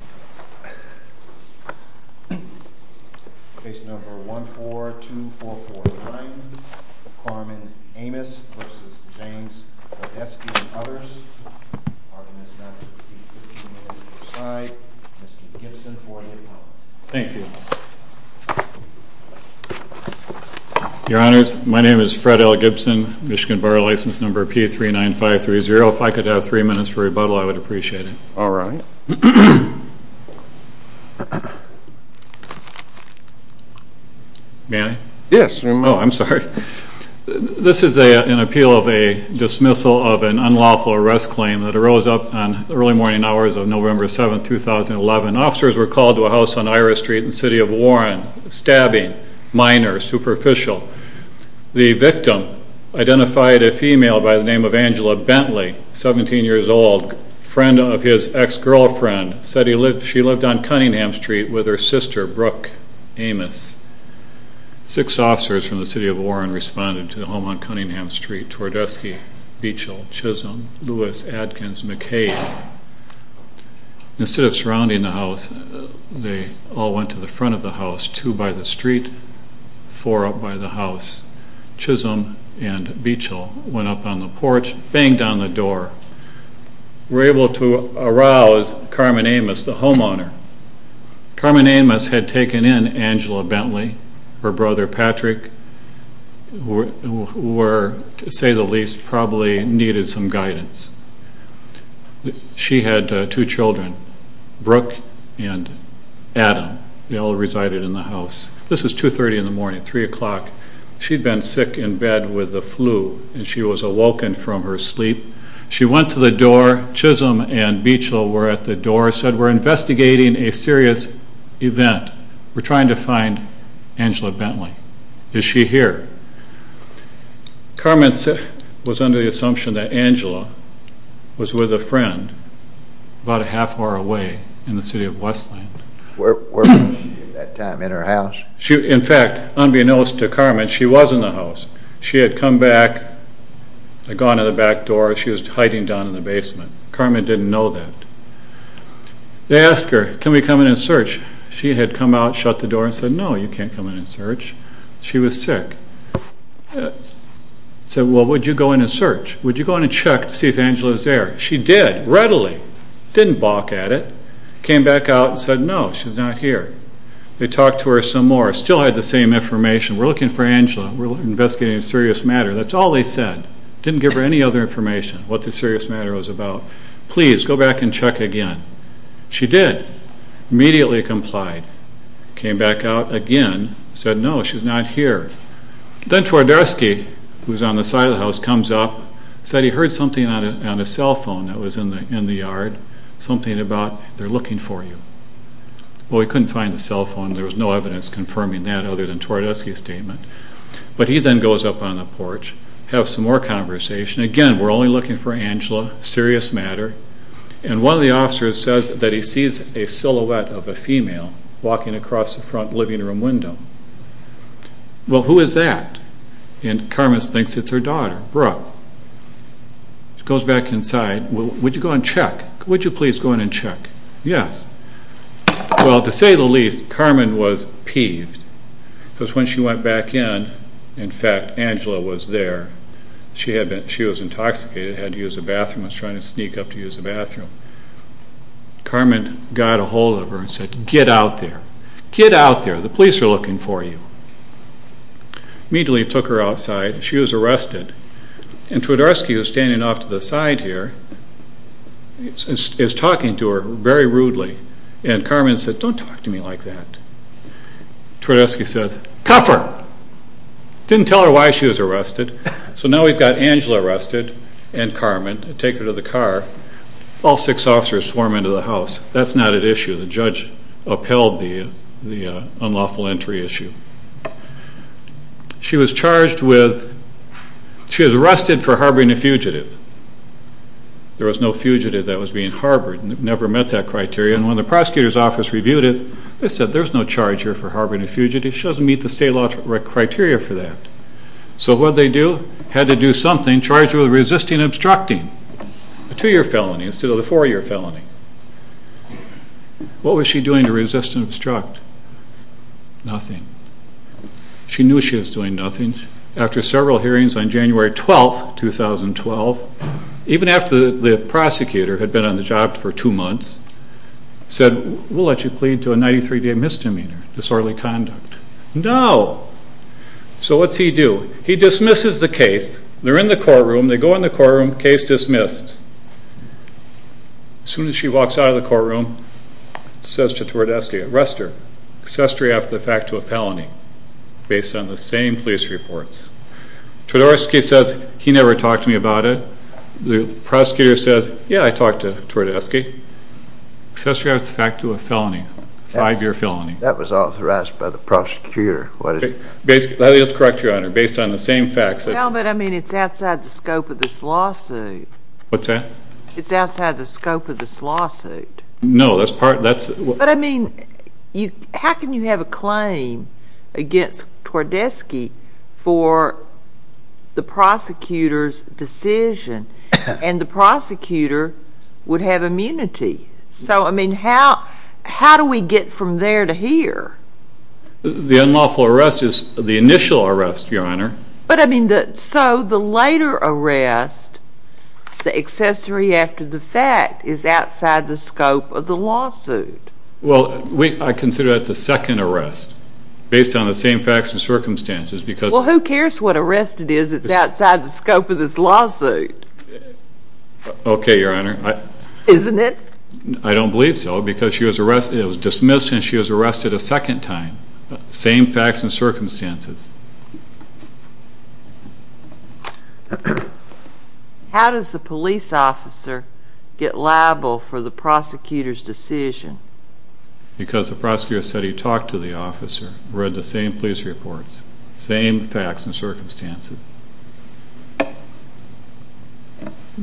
and others. Pardon me as I have to recede 15 minutes each side. Mr. Gibson for the appellate. Thank you. Your Honors, my name is Fred L. Gibson, Michigan Borough License Number P39530. If I could have three minutes for rebuttal, I would appreciate it. May I? Yes. Oh, I'm sorry. This is an appeal of a dismissal of an unlawful arrest claim that arose up on the early morning hours of November 7, 2011. Officers were called to a house on Ira Street in the city of Warren, stabbing, minor, superficial. The victim identified a female by the name of Angela Bentley, 17 years old, friend of his ex-girlfriend, said she lived on Cunningham Street with her sister, Brooke Amis. Six officers from the city of Warren responded to the home on Cunningham Street, Twardesky, Beechill, Chisholm, Lewis, Adkins, McCabe. Instead of surrounding the house, they all went to the front of the house, two by the street, four up by the house, Chisholm and Beechill went up on the porch, banged on the door, were able to arouse Carmen Amis, the homeowner. Carmen Amis had taken in Angela Bentley, her brother Patrick, who were, to say the least, probably needed some guidance. She had two children, Brooke and Adam. They all resided in the house. This was 2.30 in the morning, 3 o'clock. She'd been sick in bed with the flu and she was awoken from her sleep. She went to the door, Chisholm and Beechill were at the door, said, we're investigating a serious event. We're trying to find Angela Bentley. Is she here? Carmen was under the assumption that Angela was with a friend about a half hour away in the city of Westland. In fact, unbeknownst to Carmen, she was in the house. She had gone to the back door, she was hiding down in the basement. Carmen didn't know that. They asked her, can we come in and search? She had come out, shut the door and said, no, you can't come in and search. She was sick. They said, well, would you go in and search? Would you go in and check to see if Angela was there? She did, readily, didn't balk at it. She came back out and said, no, she's not here. They talked to her some more, still had the same information. We're looking for Angela. We're investigating a serious matter. That's all they said. Didn't give her any other information, what the serious matter was about. Please, go back and check again. She did. Immediately complied. Came back out again, said, no, she's not here. Then Twardowski, who was on the side of the house, comes up, said he heard something on his cell phone that was in the yard. Something about, they're looking for you. Well, he couldn't find the cell phone. There was no evidence confirming that other than Twardowski's statement. But he then goes up on the porch, has some more conversation. Again, we're only looking for Angela. Serious matter. And one of the officers says that he sees a silhouette of a female walking across the front living room window. Well, who is that? And Carmen thinks it's her daughter, Brooke. Goes back inside, would you go and check? Would you please go in and check? Yes. Well, to say the least, Carmen was peeved. Because when she went back in, in fact, Angela was there. She was intoxicated, had to use the bathroom, was trying to sneak up to use the bathroom. Carmen got a hold of her and said, get out there. Get out there. The police are looking for you. Immediately took her outside. She was arrested. And Twardowski, who was standing off to the side here, is talking to her very rudely. And Carmen said, don't talk to me like that. Twardowski says, cuff her. Didn't tell her why she was arrested. So now we've got Angela arrested and Carmen. Take her to the car. All six officers swarm into the house. That's not at issue. The judge upheld the unlawful entry issue. She was charged with, she was arrested for harboring a fugitive. There was no fugitive that was being harbored. Never met that criteria. And when the prosecutor's office reviewed it, they said there's no charge here for harboring a fugitive. She doesn't meet the state law criteria for that. So what'd they do? Had to do something charged with resisting obstructing. A two-year felony instead of a four-year felony. What was she doing to resist and obstruct? Nothing. She knew she was doing nothing. After several hearings on January 12, 2012, even after the prosecutor had been on the job for two months, said we'll let you plead to a 93-day misdemeanor, disorderly conduct. No. So what's he do? He dismisses the case. They're in the courtroom. They go in the courtroom. Case dismissed. As soon as she walks out of the courtroom, says to Twardowski, arrest her. Accessory after the fact to a felony based on the same police reports. Twardowski says, he never talked to me about it. The prosecutor says, yeah I talked to Twardowski. Accessory after the fact to a felony. Five-year felony. That was authorized by the prosecutor. Let me just correct you, Your Honor. Based on the same facts. No, but I mean it's outside the scope of this lawsuit. What's that? It's outside the scope of this lawsuit. No, that's part. The unlawful arrest is the initial arrest, Your Honor. But I mean, so the later arrest, the accessory after the fact, is outside the scope of the lawsuit. Well, I consider that the second arrest. Based on the same facts and circumstances. Well, who cares what arrest it is? It's outside the scope of this lawsuit. Okay, Your Honor. Isn't it? I don't believe so, because it was dismissed and she was arrested a second time. Same facts and circumstances. How does the police officer get liable for the prosecutor's decision? Because the prosecutor said he talked to the officer, read the same police reports, same facts and circumstances.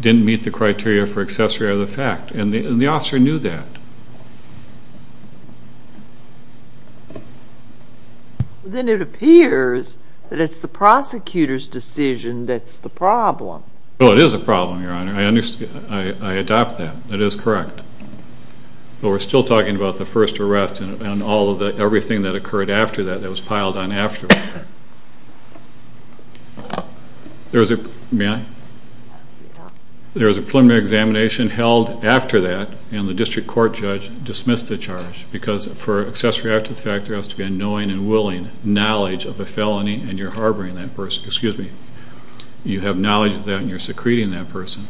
Didn't meet the criteria for accessory or the fact. And the officer knew that. Then it appears that it's the prosecutor's decision that's the problem. No, it is a problem, Your Honor. I adopt that. It is correct. But we're still talking about the first arrest and everything that occurred after that, that was piled on afterwards. May I? There was a preliminary examination held after that and the district court judge dismissed the charge. Because for accessory after the fact, there has to be a knowing and willing knowledge of the felony and you're harboring that person. Excuse me. You have knowledge of that and you're secreting that person.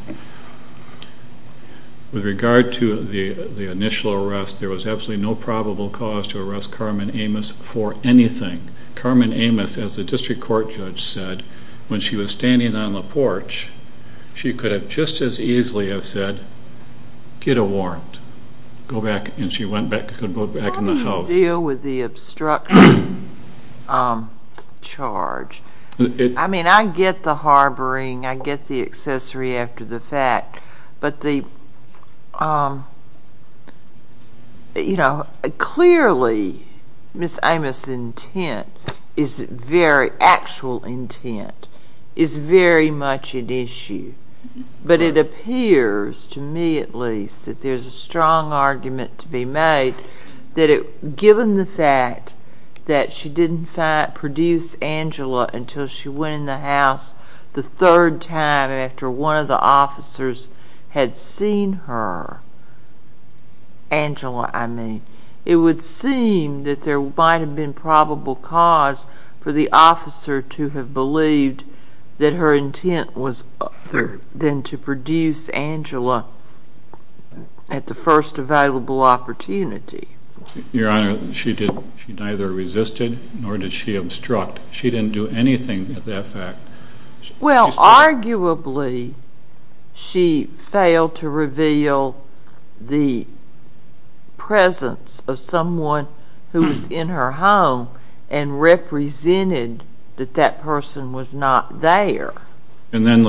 With regard to the initial arrest, there was absolutely no probable cause to arrest Carmen Amos for anything. Carmen Amos, as the district court judge said, when she was standing on the porch, she could have just as easily have said, get a warrant. Go back and she could go back in the house. How do you deal with the obstruction charge? I mean, I get the harboring. I get the accessory after the fact. But clearly, Ms. Amos' intent, actual intent, is very much an issue. But it appears, to me at least, that there's a strong argument to be made that given the fact that she didn't produce Angela until she went in the house the third time after one of the officers had seen her, Angela I mean, it would seem that there might have been probable cause for the officer to have believed that her intent was other than to produce Angela at the first available opportunity. Your Honor, she neither resisted nor did she obstruct. She didn't do anything at that fact. Well, arguably, she failed to reveal the presence of someone who was in her home and represented that that person was not there. And then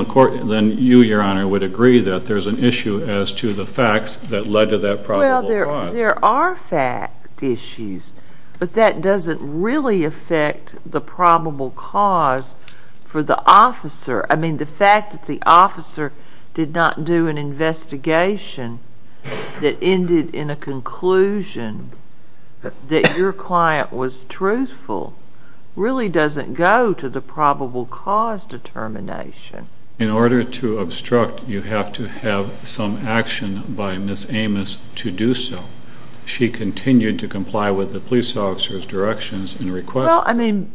you, Your Honor, would agree that there's an issue as to the facts that led to that probable cause. Well, there are fact issues. But that doesn't really affect the probable cause for the officer. I mean, the fact that the officer did not do an investigation that ended in a conclusion that your client was truthful really doesn't go to the probable cause determination. In order to obstruct, you have to have some action by Ms. Amos to do so. She continued to comply with the police officer's directions and requests. Well, I mean,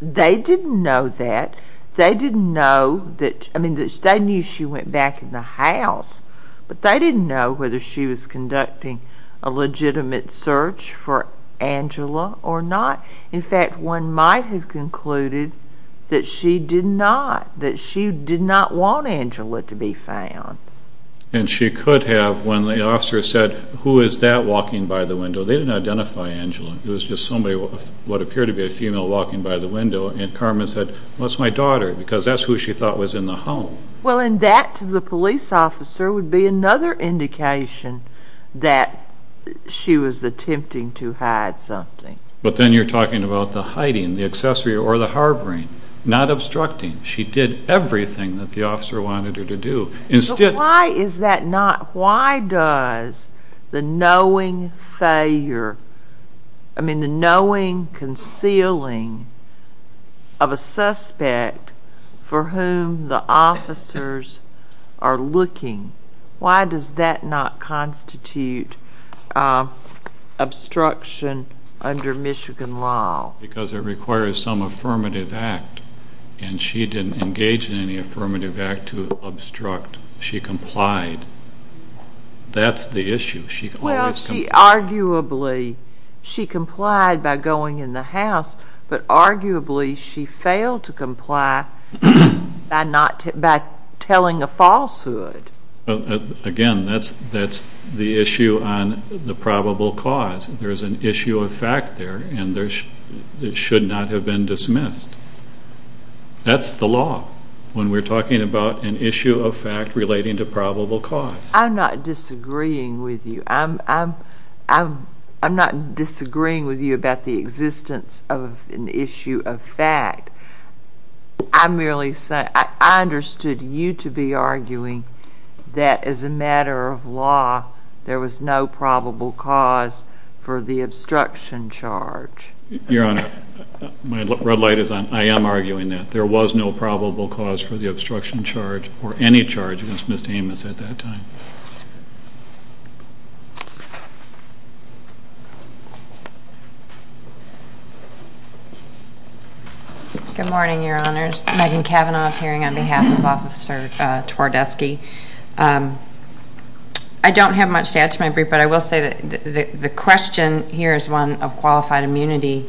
they didn't know that. They didn't know that, I mean, they knew she went back in the house. But they didn't know whether she was conducting a legitimate search for Angela or not. In fact, one might have concluded that she did not, that she did not want Angela to be found. And she could have when the officer said, who is that walking by the window? They didn't identify Angela. It was just somebody, what appeared to be a female, walking by the window. And Carmen said, well, it's my daughter, because that's who she thought was in the home. Well, and that, to the police officer, would be another indication that she was attempting to hide something. But then you're talking about the hiding, the accessory, or the harboring, not obstructing. She did everything that the officer wanted her to do. So why is that not, why does the knowing failure, I mean, the knowing concealing of a suspect for whom the officers are looking, why does that not constitute obstruction under Michigan law? Because it requires some affirmative act. And she didn't engage in any affirmative act to obstruct. She complied. That's the issue. Well, she arguably, she complied by going in the house, but arguably she failed to comply by telling a falsehood. Again, that's the issue on the probable cause. There's an issue of fact there, and it should not have been dismissed. That's the law when we're talking about an issue of fact relating to probable cause. I'm not disagreeing with you. I'm not disagreeing with you about the existence of an issue of fact. I'm merely saying, I understood you to be arguing that as a matter of law there was no probable cause for the obstruction charge. Your Honor, my red light is on. I am arguing that there was no probable cause for the obstruction charge or any charge against Ms. Amos at that time. Good morning, Your Honors. Megan Cavanaugh appearing on behalf of Officer Twardeski. I don't have much to add to my brief, but I will say that the question here is one of qualified immunity,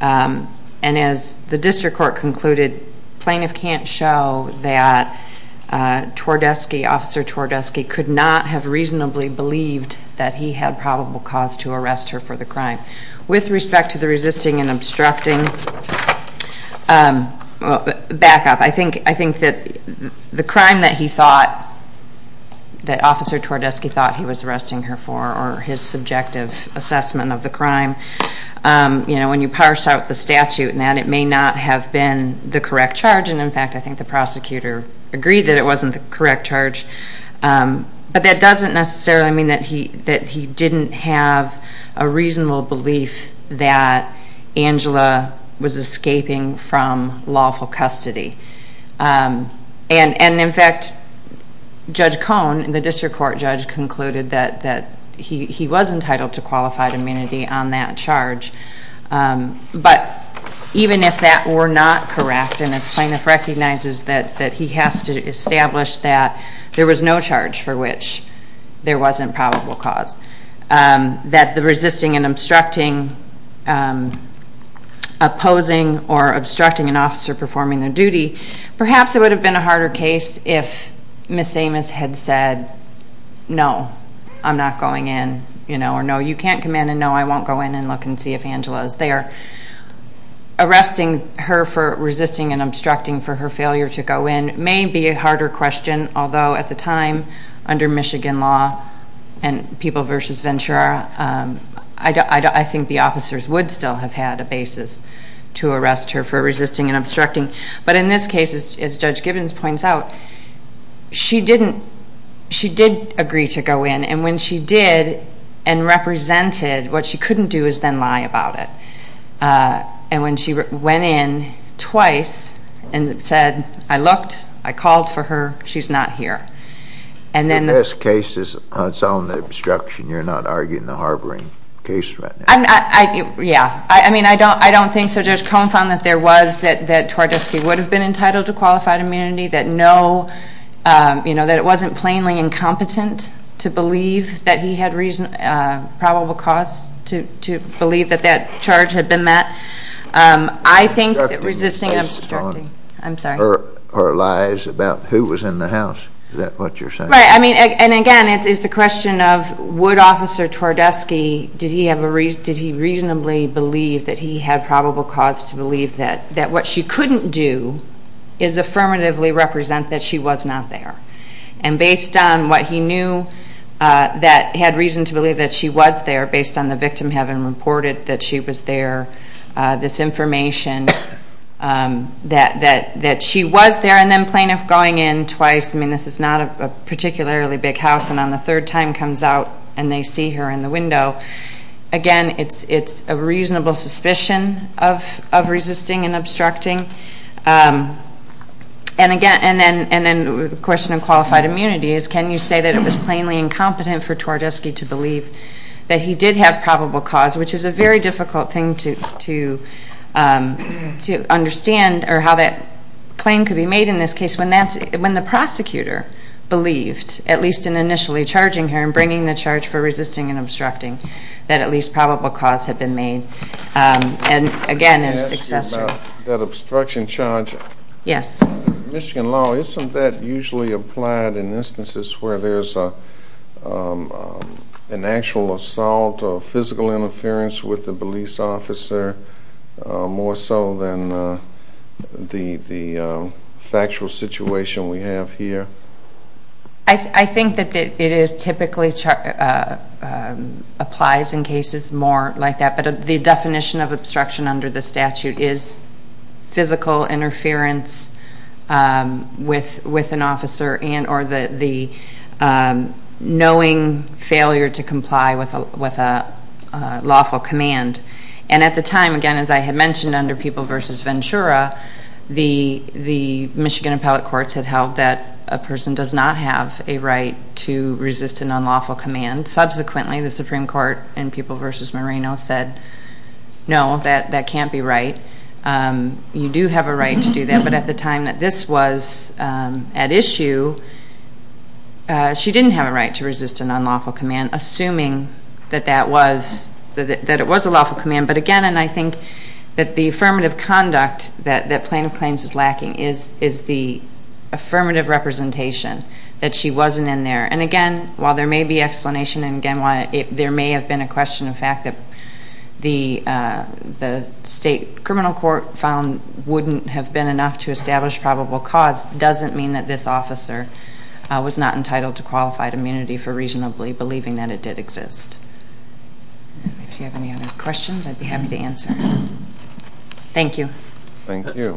and as the district court concluded, plaintiff can't show that Twardeski, Officer Twardeski, could not have reasonably believed that he had probable cause to arrest her for the crime. With respect to the resisting and obstructing backup, I think that the crime that he thought, that Officer Twardeski thought he was arresting her for or his subjective assessment of the crime, when you parse out the statute and that, it may not have been the correct charge, and in fact I think the prosecutor agreed that it wasn't the correct charge. But that doesn't necessarily mean that he didn't have a reasonable belief that Angela was escaping from lawful custody. And in fact, Judge Cohn, the district court judge, concluded that he was entitled to qualified immunity on that charge. But even if that were not correct, and this plaintiff recognizes that he has to establish that there was no charge for which there wasn't probable cause, that the resisting and obstructing, opposing or obstructing an officer performing their duty, perhaps it would have been a harder case if Ms. Amos had said, no, I'm not going in, or no, you can't come in, and no, I won't go in and look and see if Angela is there. Arresting her for resisting and obstructing for her failure to go in may be a harder question, although at the time, under Michigan law and people versus Ventura, I think the officers would still have had a basis to arrest her for resisting and obstructing. But in this case, as Judge Gibbons points out, she did agree to go in. And when she did and represented, what she couldn't do is then lie about it. And when she went in twice and said, I looked, I called for her, she's not here. In this case, it's on the obstruction. You're not arguing the harboring case right now. Yeah. I mean, I don't think Judge Cohn found that there was that Twardesky would have been entitled to qualified immunity, that it wasn't plainly incompetent to believe that he had probable cause to believe that that charge had been met. I think resisting and obstructing are lies about who was in the house. Is that what you're saying? Right. I mean, and again, it's the question of would Officer Twardesky, did he reasonably believe that he had probable cause to believe that what she couldn't do is affirmatively represent that she was not there? And based on what he knew that he had reason to believe that she was there, based on the victim having reported that she was there, this information that she was there, and then plaintiff going in twice, I mean, this is not a particularly big house, and on the third time comes out and they see her in the window. Again, it's a reasonable suspicion of resisting and obstructing. And again, and then the question of qualified immunity is, can you say that it was plainly incompetent for Twardesky to believe that he did have probable cause, which is a very difficult thing to understand or how that claim could be made in this case, when the prosecutor believed, at least in initially charging her and bringing the charge for resisting and obstructing, that at least probable cause had been made. And again, it's excessive. Can I ask you about that obstruction charge? Yes. In Michigan law, isn't that usually applied in instances where there's an actual assault or physical interference with the police officer more so than the factual situation we have here? I think that it typically applies in cases more like that, but the definition of obstruction under the statute is physical interference with an officer and or the knowing failure to comply with a lawful command. And at the time, again, as I had mentioned under People v. Ventura, the Michigan appellate courts had held that a person does not have a right to resist an unlawful command. Subsequently, the Supreme Court in People v. Moreno said, no, that can't be right. You do have a right to do that, but at the time that this was at issue, she didn't have a right to resist an unlawful command, assuming that it was a lawful command. But again, and I think that the affirmative conduct that Plaintiff Claims is lacking is the affirmative representation that she wasn't in there. And again, while there may be explanation, and again, while there may have been a question of fact, the state criminal court found wouldn't have been enough to establish probable cause doesn't mean that this officer was not entitled to qualified immunity for reasonably believing that it did exist. If you have any other questions, I'd be happy to answer. Thank you. Thank you.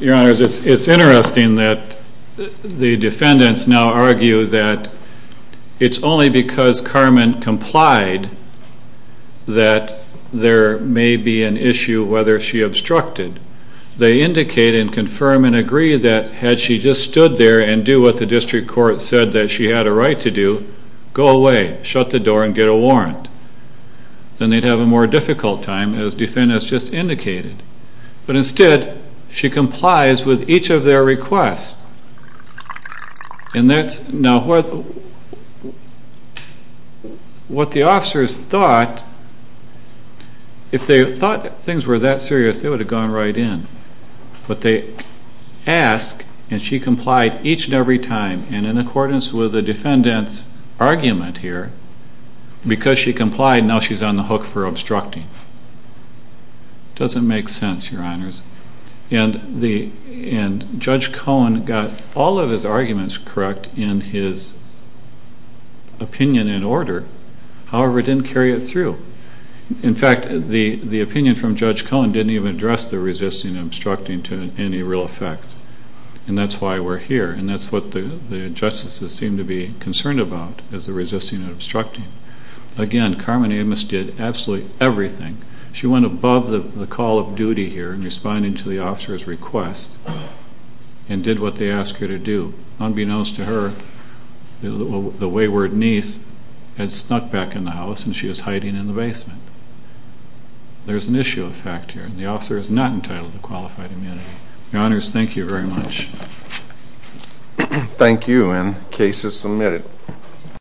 Your Honor, it's interesting that the defendants now argue that it's only because Carmen complied that there may be an issue whether she obstructed. They indicate and confirm and agree that had she just stood there and do what the district court said that she had a right to do, go away, shut the door, and get a warrant. Then they'd have a more difficult time, as defendants just indicated. But instead, she complies with each of their requests. Now, what the officers thought, if they thought things were that serious, they would have gone right in. But they ask, and she complied each and every time, and in accordance with the defendants' argument here, because she complied, now she's on the hook for obstructing. It doesn't make sense, Your Honors. And Judge Cohen got all of his arguments correct in his opinion and order. However, it didn't carry it through. In fact, the opinion from Judge Cohen didn't even address the resisting and obstructing to any real effect. And that's why we're here, and that's what the justices seem to be concerned about, is the resisting and obstructing. Again, Carmen Amos did absolutely everything. She went above the call of duty here in responding to the officer's request and did what they asked her to do. Unbeknownst to her, the wayward niece had snuck back in the house, and she was hiding in the basement. There's an issue of fact here, and the officer is not entitled to qualified immunity. Your Honors, thank you very much. Thank you, and case is submitted.